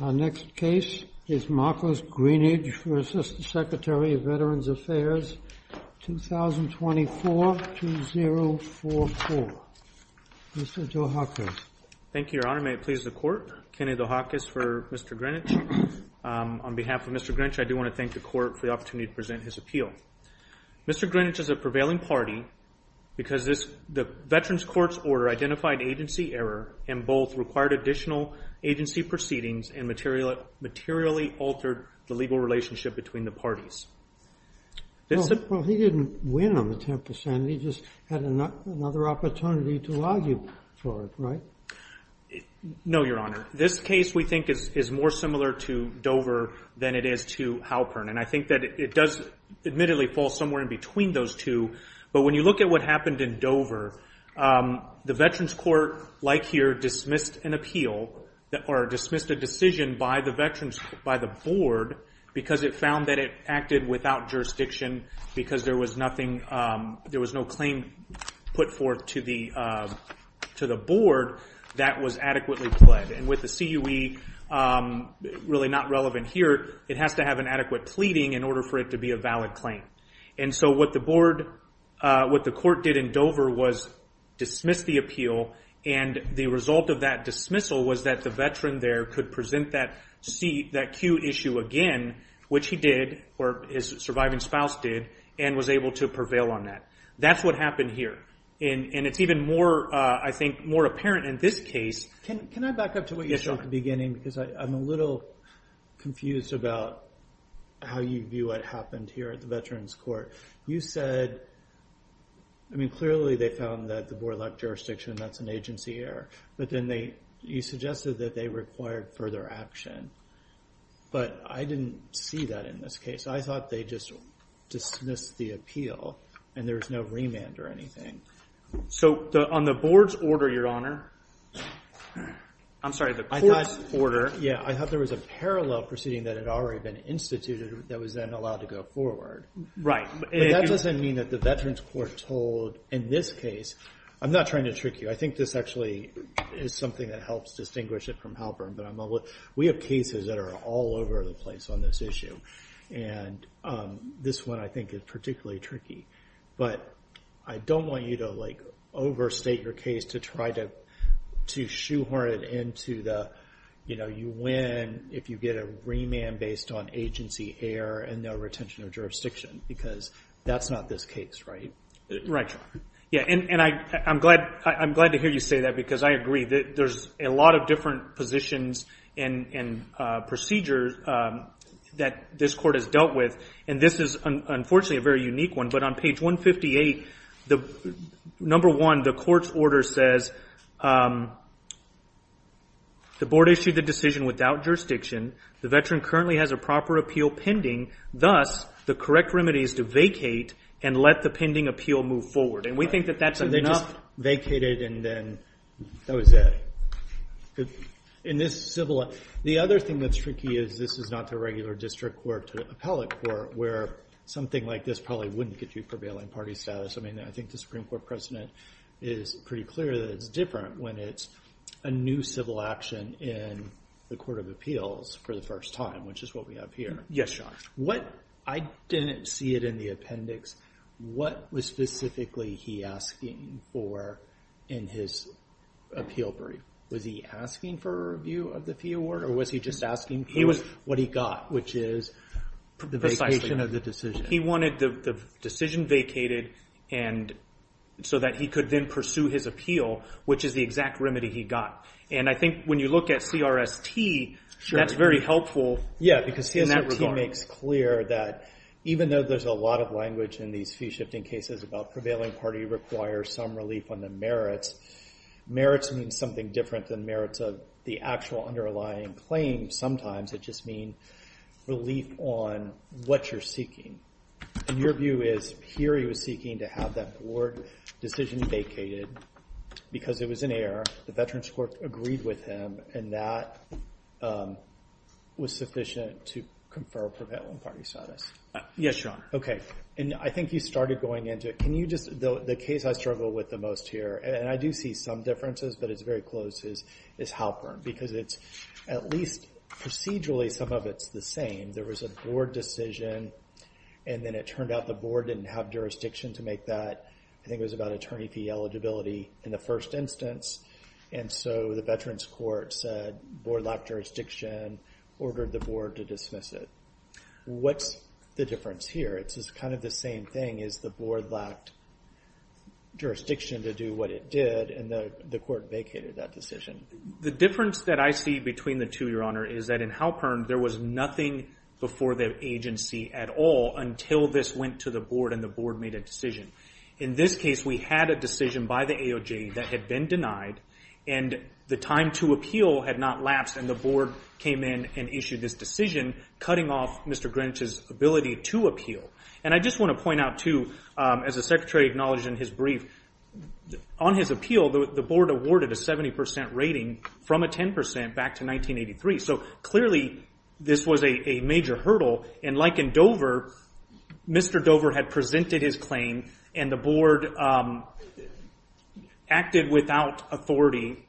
Our next case is Marcus Greenidge v. Secretary of Veterans Affairs, 2024-2044, Mr. Dohakis. Thank you, Your Honor. May it please the Court, Kenny Dohakis for Mr. Greenidge. On behalf of Mr. Greenidge, I do want to thank the Court for the opportunity to present his appeal. Mr. Greenidge is a prevailing party because the Veterans Courts Order identified agency error, and both required additional agency proceedings and materially altered the legal relationship between the parties. Well, he didn't win on the 10%, he just had another opportunity to argue for it, right? No, Your Honor. This case, we think, is more similar to Dover than it is to Halpern, and I think that it does admittedly fall somewhere in between those two, but when you look at what happened in Dover, the Veterans Court, like here, dismissed an appeal, or dismissed a decision by the Board, because it found that it acted without jurisdiction, because there was no claim put forth to the Board that was adequately pled, and with the CUE, really not relevant here, it has to have an adequate pleading in order for it to be a valid claim. And so what the Court did in Dover was dismiss the appeal, and the result of that dismissal was that the Veteran there could present that CUE issue again, which he did, or his surviving spouse did, and was able to prevail on that. That's what happened here, and it's even more, I think, more apparent in this case. Can I back up to what you said at the beginning, because I'm a little confused about how you knew what happened here at the Veterans Court. You said, I mean, clearly they found that the Board lacked jurisdiction, that's an agency error, but then you suggested that they required further action, but I didn't see that in this case. I thought they just dismissed the appeal, and there was no remand or anything. So on the Board's order, Your Honor, I'm sorry, the Court's order. Yeah, I thought there was a parallel proceeding that had already been instituted that was been allowed to go forward. Right. But that doesn't mean that the Veterans Court told, in this case, I'm not trying to trick you. I think this actually is something that helps distinguish it from Halpern, but we have cases that are all over the place on this issue, and this one I think is particularly tricky. But I don't want you to overstate your case to try to shoehorn it into the, you win if you get a remand based on agency error and no retention of jurisdiction, because that's not this case, right? Right. Yeah, and I'm glad to hear you say that, because I agree that there's a lot of different positions and procedures that this Court has dealt with, and this is unfortunately a very unique one. But on page 158, number one, the Court's order says, the Board issued the decision without jurisdiction, the Veteran currently has a proper appeal pending, thus the correct remedy is to vacate and let the pending appeal move forward. And we think that that's enough. So they just vacated and then that was it. In this civil, the other thing that's tricky is this is not the regular district court to appellate court, where something like this probably wouldn't get you prevailing party status. I mean, I think the Supreme Court precedent is pretty clear that it's different when it's a new civil action in the Court of Appeals for the first time, which is what we have here. Yes, Sean. What, I didn't see it in the appendix, what was specifically he asking for in his appeal brief? Was he asking for a review of the fee award or was he just asking for what he got, which is the vacation of the decision? He wanted the decision vacated so that he could then pursue his appeal, which is the exact remedy he got. And I think when you look at CRST, that's very helpful in that regard. Yeah, because CRST makes clear that even though there's a lot of language in these fee shifting cases about prevailing party requires some relief on the merits, merits means something different than merits of the actual underlying claim. Sometimes it just means relief on what you're seeking. And your view is here he was seeking to have that board decision vacated because it was an error. The Veterans Court agreed with him and that was sufficient to confer prevailing party status. Yes, Sean. Okay. And I think you started going into it. Can you just, the case I struggle with the most here, and I do see some differences but it's very close, is Halpern because it's at least procedurally some of it's the same. There was a board decision and then it turned out the board didn't have jurisdiction to make that. I think it was about attorney fee eligibility in the first instance. And so the Veterans Court said board lacked jurisdiction, ordered the board to dismiss it. What's the difference here? It's kind of the same thing as the board lacked jurisdiction to do what it did and the court vacated that decision. The difference that I see between the two, Your Honor, is that in Halpern there was nothing before the agency at all until this went to the board and the board made a decision. In this case, we had a decision by the AOJ that had been denied and the time to appeal had not lapsed and the board came in and issued this decision cutting off Mr. Greenwich's ability to appeal. And I just want to point out too, as the Secretary acknowledged in his brief, on his appeal, the board awarded a 70% rating from a 10% back to 1983. So clearly this was a major hurdle and like in Dover, Mr. Dover had presented his claim and the board acted without authority,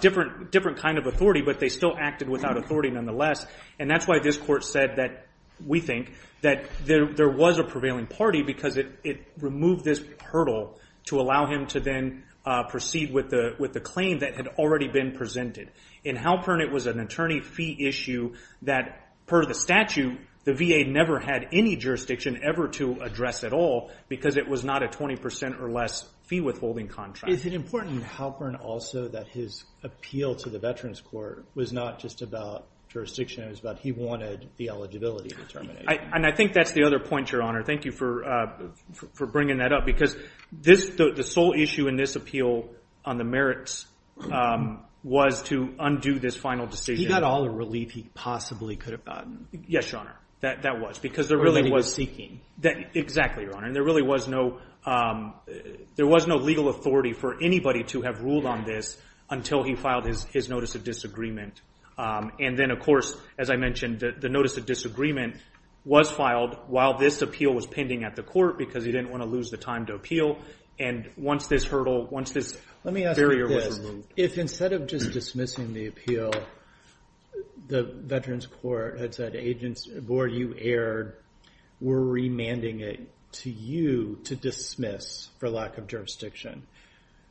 different kind of authority, but they still acted without authority nonetheless. And that's why this court said that, we think, that there was a prevailing party because it removed this hurdle to allow him to then proceed with the claim that had already been presented. In Halpern, it was an attorney fee issue that, per the statute, the VA never had any jurisdiction ever to address at all because it was not a 20% or less fee withholding contract. Is it important in Halpern also that his appeal to the Veterans Court was not just about jurisdiction, it was about he wanted the eligibility to terminate? And I think that's the other point, Your Honor. Thank you for bringing that up because the sole issue in this appeal on the merits was to undo this final decision. He got all the relief he possibly could have gotten. Yes, Your Honor. That was because there really was... Exactly, Your Honor. And there really was no legal authority for anybody to have ruled on this until he filed his notice of disagreement. And then, of course, as I mentioned, the notice of disagreement was filed while this appeal was pending at the court because he didn't want to lose the time to appeal. And once this hurdle, once this barrier was removed... If instead of just dismissing the appeal, the Veterans Court had said, Board, you erred, we're remanding it to you to dismiss for lack of jurisdiction.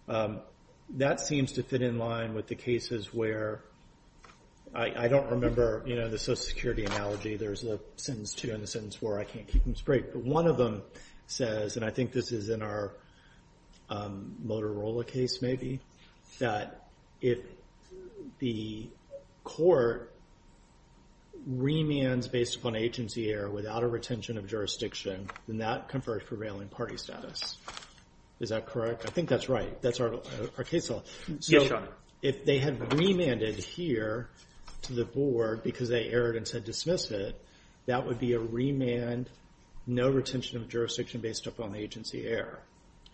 That seems to fit in line with the cases where... I don't remember the social security analogy. There's a sentence two and a sentence four, I can't keep them straight. But one of them says, and I think this is in our Motorola case maybe, that if the court remands based upon agency error without a retention of jurisdiction, then that conferred prevailing party status. Is that correct? I think that's right. That's our case law. Yes, Your Honor. So if they had remanded here to the board because they erred and said dismiss it, that would be a remand, no retention of jurisdiction based upon agency error.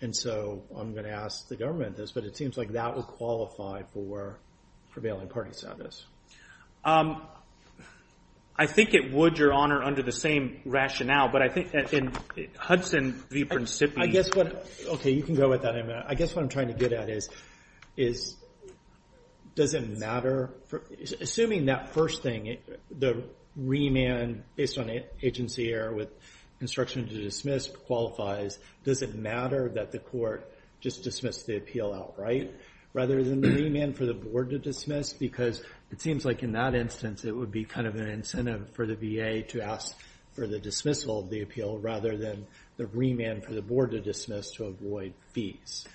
And so I'm going to ask the government this, but it seems like that would qualify for prevailing party status. I think it would, Your Honor, under the same rationale. But I think that in Hudson v. Principi... I guess what... Okay, you can go with that. I guess what I'm trying to get at is, does it matter? Assuming that first thing, the remand based on agency error with instruction to dismiss qualifies, does it matter that the court just dismissed the appeal outright rather than the remand for the board to dismiss? Because it seems like in that instance, it would be kind of an incentive for the VA to ask for the dismissal of the appeal rather than the remand for the board to dismiss to avoid fees.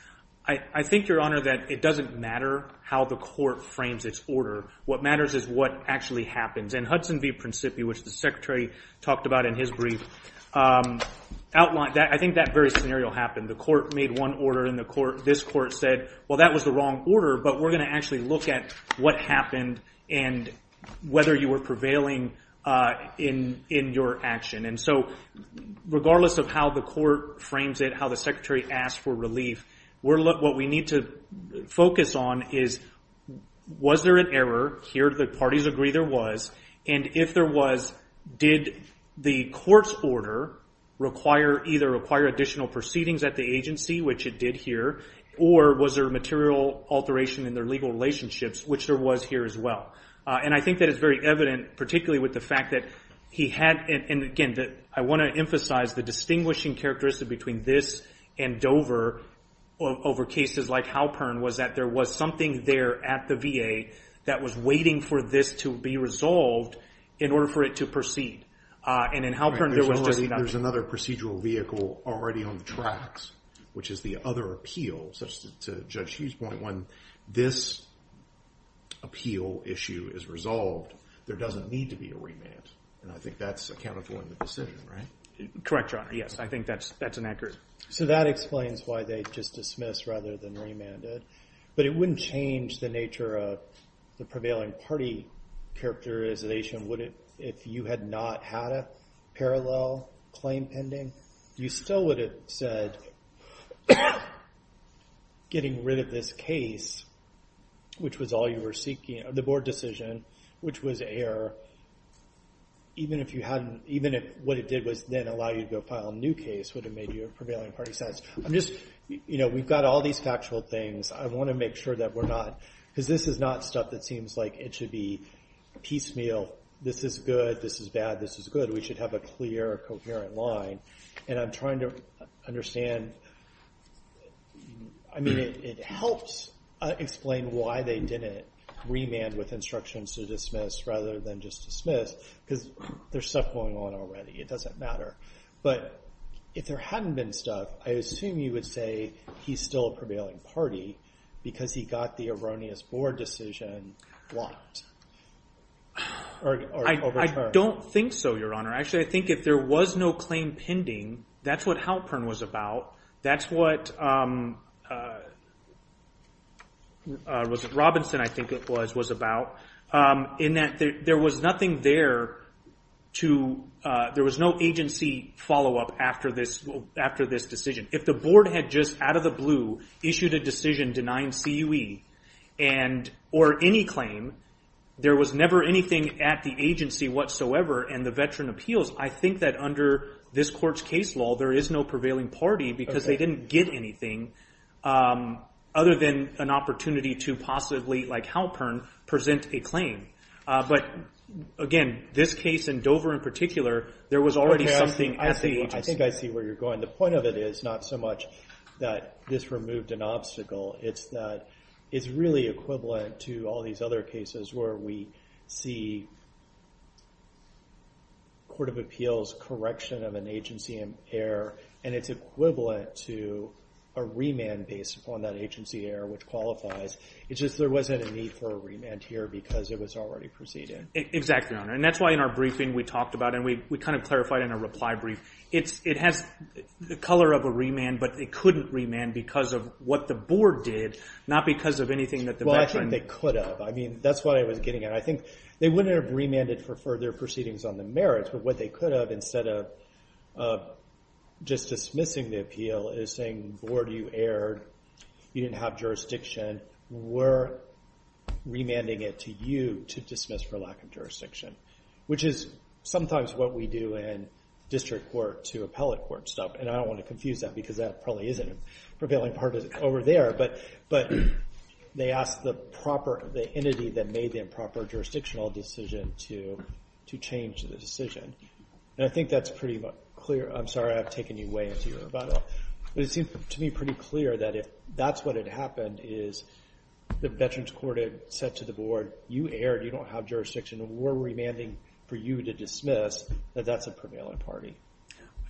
I think, Your Honor, that it doesn't matter how the court frames its order. What matters is what actually happens. And Hudson v. Principi, which the Secretary talked about in his brief, outlined... I think that very scenario happened. The court made one order and this court said, well, that was the wrong order, but we're going to actually look at what happened and whether you were prevailing in your action. And so, regardless of how the court frames it, how the Secretary asked for relief, what we need to focus on is, was there an error? Here the parties agree there was. And if there was, did the court's order either require additional proceedings at the agency, which it did here, or was there a material alteration in their legal relationships, which there was here as well? And I think that it's very evident, particularly with the fact that he had... And again, I want to emphasize the distinguishing characteristic between this and Dover over cases like Halpern was that there was something there at the VA that was waiting for this to be resolved in order for it to proceed. And in Halpern, there was just enough... There's another procedural vehicle already on the tracks, which is the other appeal, such to Judge Hughes' point, when this appeal issue is resolved, there doesn't need to be a remand. And I think that's accountable in the decision, right? Correct, Your Honor. Yes. I think that's an accurate... So that explains why they just dismissed rather than remanded. But it wouldn't change the nature of the prevailing party characterization, would it, if you had not had a parallel claim pending? You still would have said, getting rid of this case, which was all you were seeking, the board decision, which was air, even if what it did was then allow you to go file a new case, would have made you a prevailing party sense. We've got all these factual things. I want to make sure that we're not... Because this is not stuff that seems like it should be piecemeal. This is good. This is bad. This is good. This is good. We should have a clear, coherent line. And I'm trying to understand, I mean, it helps explain why they didn't remand with instructions to dismiss rather than just dismiss, because there's stuff going on already. It doesn't matter. But if there hadn't been stuff, I assume you would say he's still a prevailing party because he got the erroneous board decision blocked or overturned. I don't think so, Your Honor. Actually, I think if there was no claim pending, that's what Halpern was about. That's what Robinson, I think it was, was about, in that there was nothing there to... There was no agency follow-up after this decision. If the board had just, out of the blue, issued a decision denying CUE or any claim, there was never anything at the agency whatsoever and the veteran appeals. I think that under this court's case law, there is no prevailing party because they didn't get anything other than an opportunity to possibly, like Halpern, present a claim. But again, this case in Dover in particular, there was already something at the agency. I think I see where you're going. The point of it is not so much that this removed an obstacle, it's that it's really equivalent to all these other cases where we see court of appeals correction of an agency error and it's equivalent to a remand based upon that agency error which qualifies. It's just there wasn't a need for a remand here because it was already preceded. Exactly, Your Honor. That's why in our briefing we talked about, and we clarified in our reply brief, it has the color of a remand, but it couldn't remand because of what the board did, not because of anything that the veteran... Well, I think they could have. I mean, that's what I was getting at. I think they wouldn't have remanded for further proceedings on the merits, but what they could have instead of just dismissing the appeal is saying, board, you erred, you didn't have jurisdiction, we're remanding it to you to dismiss for lack of jurisdiction, which is sometimes what we do in district court to appellate court stuff, and I don't want to confuse that because that probably isn't a prevailing part over there, but they asked the entity that made the improper jurisdictional decision to change the decision, and I think that's pretty clear. I'm sorry I've taken you way into your rebuttal, but it seems to me pretty clear that if that's what had happened is the veterans court had said to the board, you erred, you don't have jurisdiction, we're remanding for you to dismiss, that that's a prevailing party.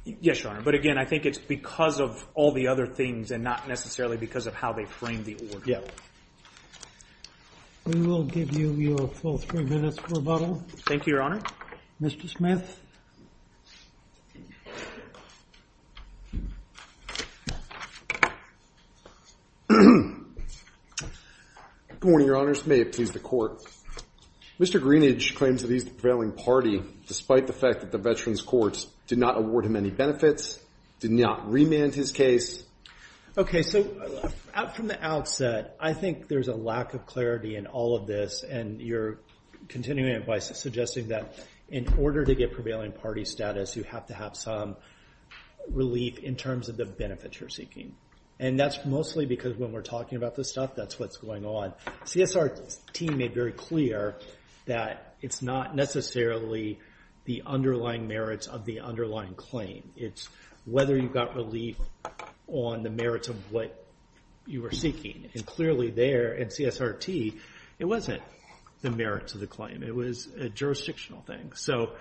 Yes, Your Honor, but again, I think it's because of all the other things and not necessarily because of how they framed the order. Yeah. We will give you your full three minutes rebuttal. Thank you, Your Honor. Mr. Smith. Good morning, Your Honors. May it please the Court. Mr. Greenidge claims that he's the prevailing party, despite the fact that the veterans courts did not award him any benefits, did not remand his case. Okay, so from the outset, I think there's a lack of clarity in all of this, and you're continuing by suggesting that in order to get prevailing party status, you have to have some relief in terms of the benefits you're seeking, and that's mostly because when we're talking about this stuff, that's what's going on. CSRT made very clear that it's not necessarily the underlying merits of the underlying claim. It's whether you got relief on the merits of what you were seeking, and clearly there in CSRT, it wasn't the merits of the claim. It was a jurisdictional thing. So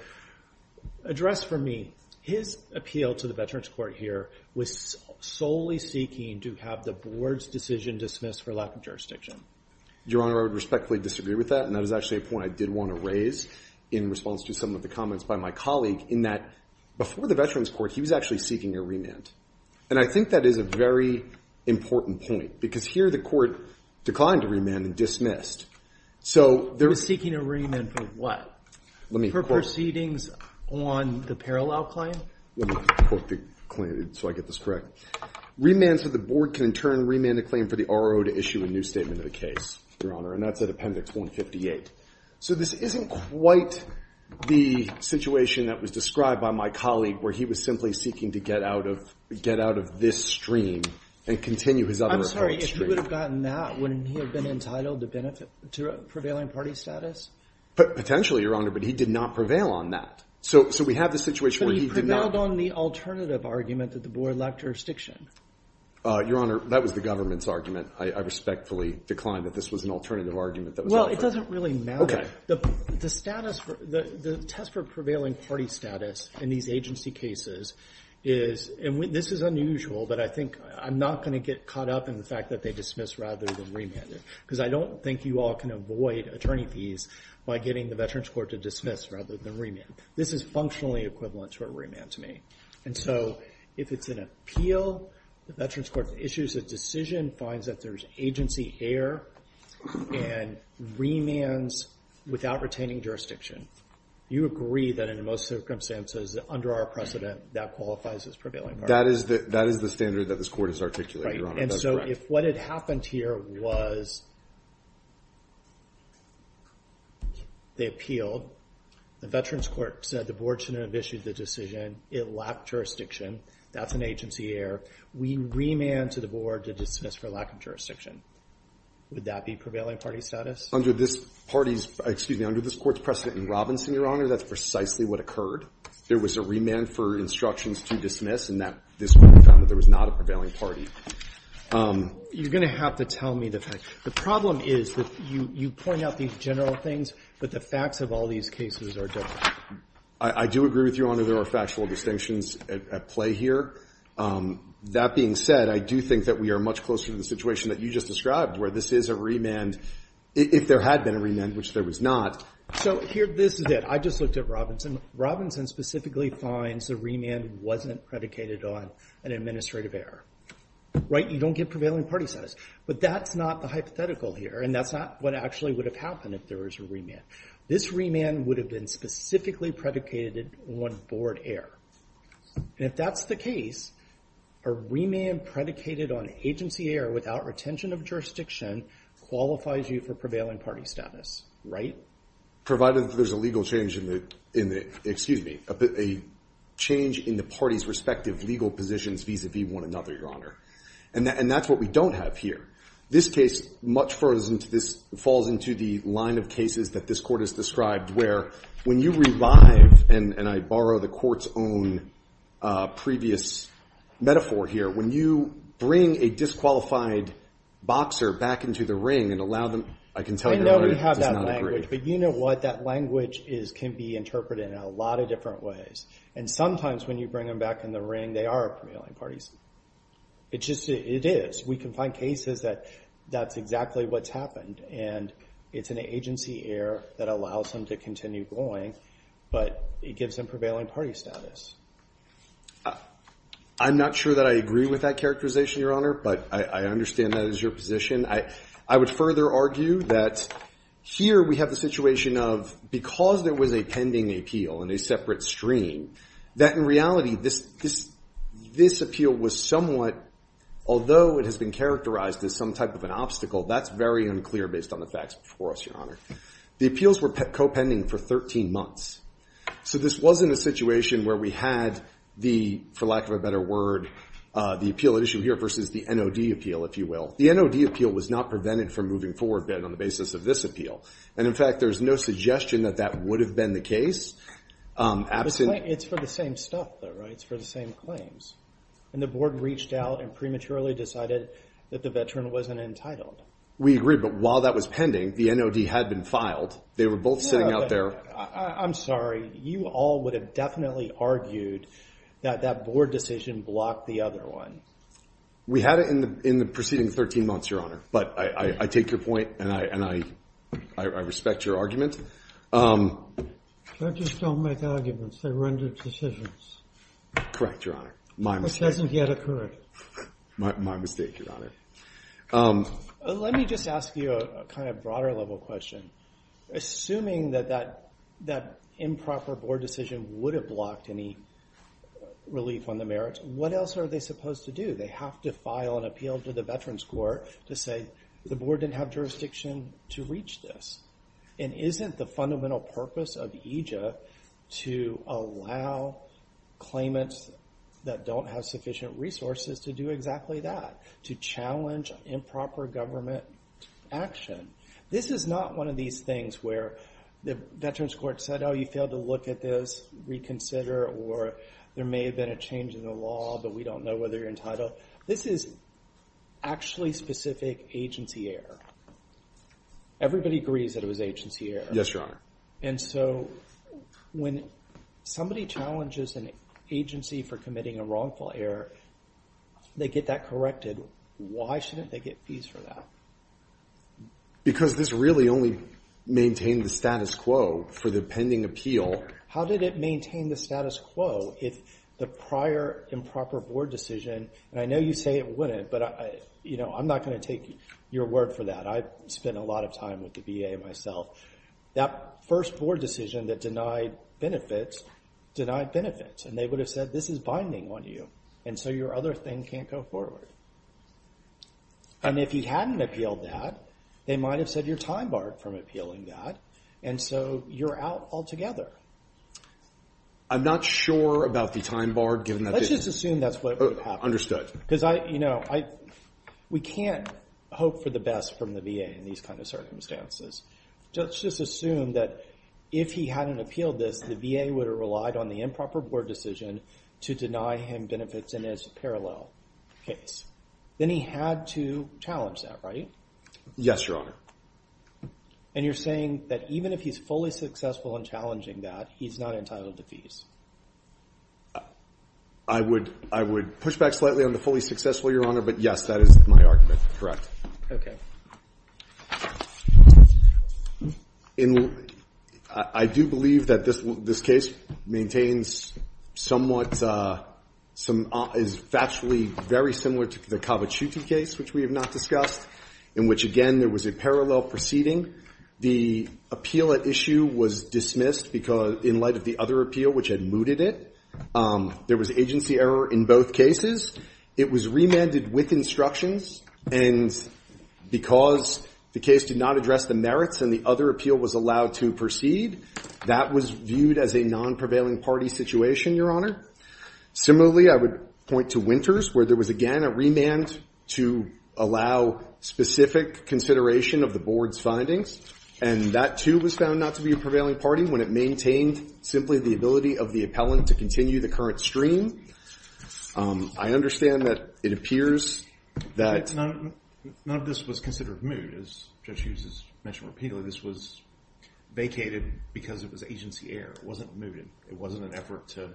address for me, his appeal to the veterans court here was solely seeking to have the board's decision dismissed for lack of jurisdiction. Your Honor, I would respectfully disagree with that, and that is actually a point I did want to raise in response to some of the comments by my colleague, in that before the veterans court, he was actually seeking a remand. And I think that is a very important point, because here the court declined to remand and dismissed. So they're- Seeking a remand for what? Let me quote- For proceedings on the parallel claim? Let me quote the claim so I get this correct. Remand so the board can, in turn, remand a claim for the RO to issue a new statement of the case, Your Honor, and that's at appendix 158. So this isn't quite the situation that was described by my colleague, where he was simply seeking to get out of this stream and continue his other- I'm sorry, if he would have gotten that, wouldn't he have been entitled to prevailing party status? Potentially, Your Honor, but he did not prevail on that. So we have the situation where he did not- Your Honor, that was the government's argument. I respectfully decline that this was an alternative argument that was offered. Well, it doesn't really matter. The status for- the test for prevailing party status in these agency cases is- and this is unusual, but I think I'm not going to get caught up in the fact that they dismissed rather than remanded, because I don't think you all can avoid attorney fees by getting the veterans court to dismiss rather than remand. This is functionally equivalent to a remand to me. And so, if it's an appeal, the veterans court issues a decision, finds that there's agency error, and remands without retaining jurisdiction. You agree that in most circumstances, under our precedent, that qualifies as prevailing party? That is the standard that this court has articulated, Your Honor. And so, if what had happened here was they appealed, the veterans court said the board shouldn't have issued the decision, it lacked jurisdiction, that's an agency error. We remand to the board to dismiss for lack of jurisdiction. Would that be prevailing party status? Under this party's- excuse me, under this court's precedent in Robinson, Your Honor, that's precisely what occurred. There was a remand for instructions to dismiss, and that- this court found that there was not a prevailing party. You're going to have to tell me the facts. The problem is that you point out these general things, but the facts of all these cases are different. I do agree with you, Your Honor, there are factual distinctions at play here. That being said, I do think that we are much closer to the situation that you just described, where this is a remand, if there had been a remand, which there was not. So here, this is it. I just looked at Robinson. Robinson specifically finds the remand wasn't predicated on an administrative error. Right? You don't get prevailing party status. But that's not the hypothetical here, and that's not what actually would have happened if there was a remand. This remand would have been specifically predicated on board error. And if that's the case, a remand predicated on agency error without retention of jurisdiction qualifies you for prevailing party status. Right? Provided that there's a legal change in the- excuse me, a change in the party's respective legal positions vis-a-vis one another, Your Honor. And that's what we don't have here. This case falls into the line of cases that this court has described, where when you revive, and I borrow the court's own previous metaphor here, when you bring a disqualified boxer back into the ring and allow them- I can tell you, Your Honor, it does not agree. I know we have that language, but you know what? That language can be interpreted in a lot of different ways. And sometimes when you bring them back in the ring, they are a prevailing party. It just is. We can find cases that that's exactly what's happened. And it's an agency error that allows them to continue going, but it gives them prevailing party status. I'm not sure that I agree with that characterization, Your Honor, but I understand that is your position. I would further argue that here we have the situation of, because there was a pending appeal in a separate stream, that in reality this appeal was somewhat, although it has been characterized as some type of an obstacle, that's very unclear based on the facts before us, Your Honor. The appeals were co-pending for 13 months. So this wasn't a situation where we had the, for lack of a better word, the appeal at issue here versus the NOD appeal, if you will. The NOD appeal was not prevented from moving forward on the basis of this appeal. And in fact, there's no suggestion that that would have been the case. It's for the same stuff though, right? It's for the same claims. And the board reached out and prematurely decided that the veteran wasn't entitled. We agree. But while that was pending, the NOD had been filed. They were both sitting out there. I'm sorry. You all would have definitely argued that that board decision blocked the other one. We had it in the preceding 13 months, Your Honor. But I take your point, and I respect your argument. Judges don't make arguments. They render decisions. Correct, Your Honor. My mistake. This hasn't yet occurred. My mistake, Your Honor. Let me just ask you a kind of broader level question. Assuming that that improper board decision would have blocked any relief on the merits, what else are they supposed to do? They have to file an appeal to the Veterans Court to say, the board didn't have jurisdiction to reach this. And isn't the fundamental purpose of EJA to allow claimants that don't have sufficient resources to do exactly that, to challenge improper government action? This is not one of these things where the Veterans Court said, oh, you failed to look at this, reconsider, or there may have been a change in the law, but we don't know whether you're entitled. This is actually specific agency error. Everybody agrees that it was agency error. Yes, Your Honor. And so when somebody challenges an agency for committing a wrongful error, they get that corrected. Why shouldn't they get fees for that? Because this really only maintained the status quo for the pending appeal. How did it maintain the status quo if the prior improper board decision, and I know you say it wouldn't, but I'm not going to take your word for that. I've spent a lot of time with the VA myself. That first board decision that denied benefits, denied benefits, and they would have said this is binding on you, and so your other thing can't go forward. And if you hadn't appealed that, they might have said you're time barred from appealing that, and so you're out altogether. I'm not sure about the time bar, given that- Let's just assume that's what would have happened. Understood. Because we can't hope for the best from the VA in these kind of circumstances. Let's just assume that if he hadn't appealed this, the VA would have relied on the improper board decision to deny him benefits in his parallel case. Then he had to challenge that, right? Yes, Your Honor. And you're saying that even if he's fully successful in challenging that, he's not entitled to fees? I would push back slightly on the fully successful, Your Honor, but yes, that is my argument. I do believe that this case maintains somewhat, is factually very similar to the Cavicciuti case, which we have not discussed, in which, again, there was a parallel proceeding. The appeal at issue was dismissed in light of the other appeal, which had mooted it. There was agency error in both cases. It was remanded with instructions, and because the case did not address the merits and the other appeal was allowed to proceed, that was viewed as a non-prevailing party situation, Your Honor. Similarly, I would point to Winters, where there was, again, a remand to allow specific consideration of the board's findings, and that, too, was found not to be a prevailing party when it maintained, simply, the ability of the appellant to continue the current stream. I understand that it appears that... None of this was considered moot. As Judge Hughes has mentioned repeatedly, this was vacated because it was agency error. It wasn't mooted. It wasn't an effort to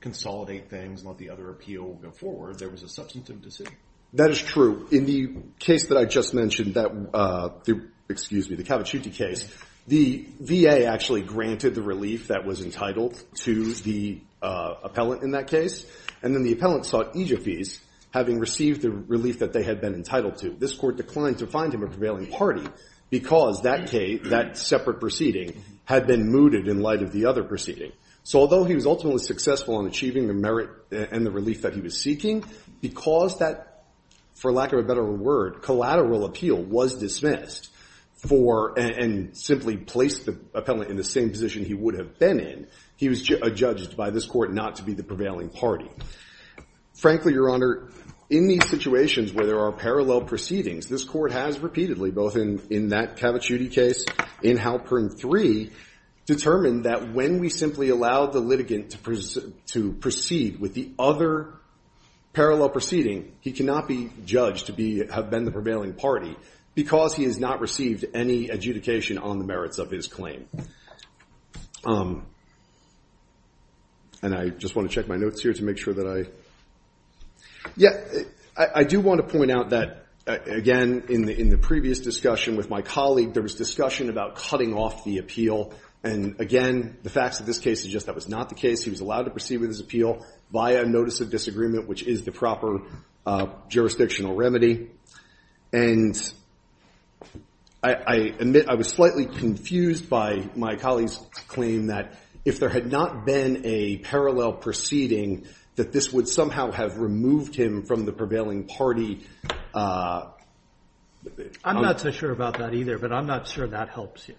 consolidate things and let the other appeal go forward. There was a substantive decision. That is true. In the case that I just mentioned, the Cavicciuti case, the VA actually granted the relief that was entitled to the appellant in that case, and then the appellant sought EJF fees, having received the relief that they had been entitled to. This court declined to find him a prevailing party because that separate proceeding had been mooted in light of the other proceeding. So although he was ultimately successful in achieving the merit and the relief that he was seeking, because that, for lack of a better word, collateral appeal was dismissed and simply placed the appellant in the same position he would have been in, he was judged by this court not to be the prevailing party. Frankly, Your Honor, in these situations where there are parallel proceedings, this court has repeatedly, both in that Cavicciuti case, in Halpern III, determined that when we simply allow the litigant to proceed with the other parallel proceeding, he cannot be judged to have been the prevailing party because he has not received any adjudication on the merits of his claim. And I just want to check my notes here to make sure that I – yeah, I do want to point out that, again, in the previous discussion with my colleague, there was discussion about cutting off the appeal. And again, the facts of this case suggest that was not the case. He was allowed to proceed with his appeal via notice of disagreement, which is the proper jurisdictional remedy. And I admit I was slightly confused by my colleague's claim that if there had not been a parallel proceeding, that this would somehow have removed him from the prevailing party. I'm not so sure about that either, but I'm not sure that helps you.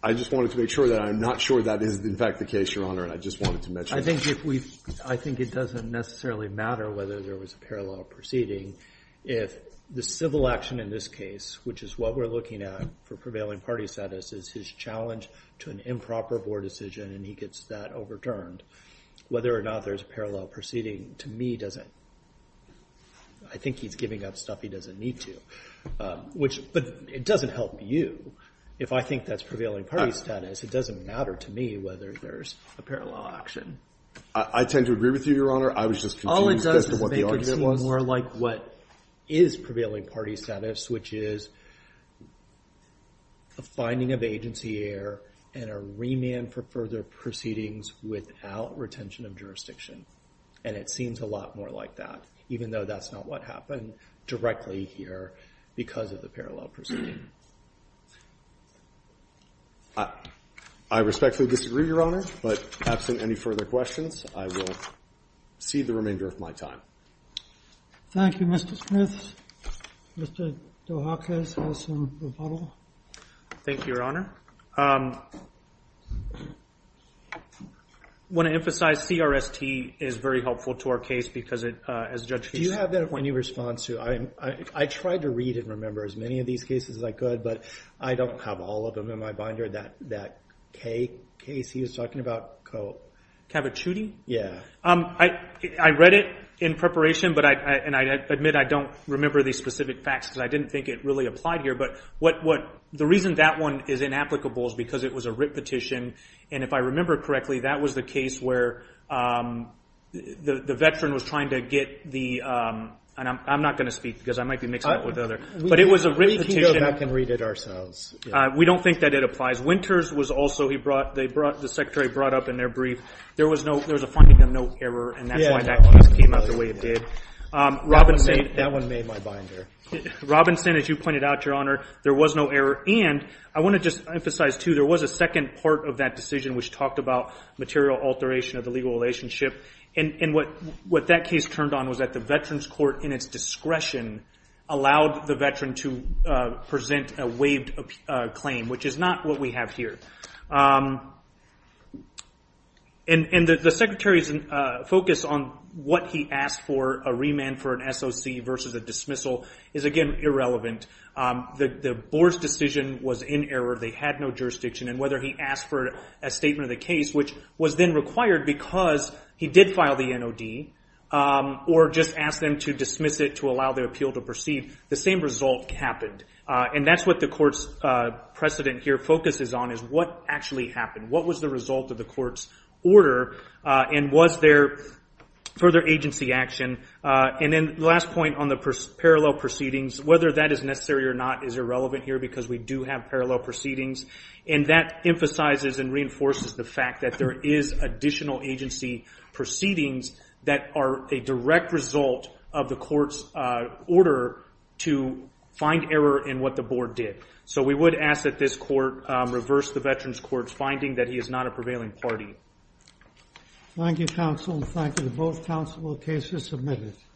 I just wanted to make sure that I'm not sure that is, in fact, the case, Your Honor, and I just wanted to mention that. I think it doesn't necessarily matter whether there was a parallel proceeding if the civil action in this case, which is what we're looking at for prevailing party status, is his challenge to an improper board decision, and he gets that overturned. Whether or not there's a parallel proceeding, to me, doesn't, I think he's giving up stuff he doesn't need to, which, but it doesn't help you. If I think that's prevailing party status, it doesn't matter to me whether there's a parallel action. I tend to agree with you, Your Honor. I was just confused as to what the argument was. All it does is make it seem more like what is prevailing party status, which is a finding of agency error, and a remand for further proceedings without retention of jurisdiction, and it seems a lot more like that, even though that's not what happened directly here because of the parallel proceeding. I respectfully disagree, Your Honor, but absent any further questions, I will cede the remainder of my time. Thank you, Mr. Smith. Mr. Dohakis has some rebuttal. Thank you, Your Honor. I want to emphasize CRST is very helpful to our case because it, as a judge, he's- Do you have any response to, I tried to read and remember as many of these cases as I could, but I don't have all of them in my binder. That Kay case he was talking about, Coe- Cavicciuti? Yeah. I read it in preparation, and I admit I don't remember the specific facts because I didn't The reason that one is inapplicable is because it was a writ petition, and if I remember correctly, that was the case where the veteran was trying to get the, and I'm not going to speak because I might be mixing it up with other, but it was a writ petition- We can go back and read it ourselves. We don't think that it applies. Winters was also, he brought, the Secretary brought up in their brief, there was a finding of no error, and that's why that case came out the way it did. Robinson- That one made my binder. Robinson, as you pointed out, Your Honor, there was no error, and I want to just emphasize too, there was a second part of that decision which talked about material alteration of the legal relationship, and what that case turned on was that the Veterans Court in its discretion allowed the veteran to present a waived claim, which is not what we have here, and the Secretary's focus on what he asked for, a remand for an SOC versus a dismissal, is, again, irrelevant. The Board's decision was in error. They had no jurisdiction, and whether he asked for a statement of the case, which was then required because he did file the NOD, or just asked them to dismiss it to allow the appeal to proceed, the same result happened, and that's what the Court's precedent here focuses on is what actually happened. What was the result of the Court's order, and was there further agency action, and then the last point on the parallel proceedings, whether that is necessary or not is irrelevant here because we do have parallel proceedings, and that emphasizes and reinforces the fact that there is additional agency proceedings that are a direct result of the Court's order to find error in what the Board did. So we would ask that this Court reverse the Veterans Court's finding that he is not a prevailing party. Thank you, counsel, and thank you to both counsel, the case is submitted.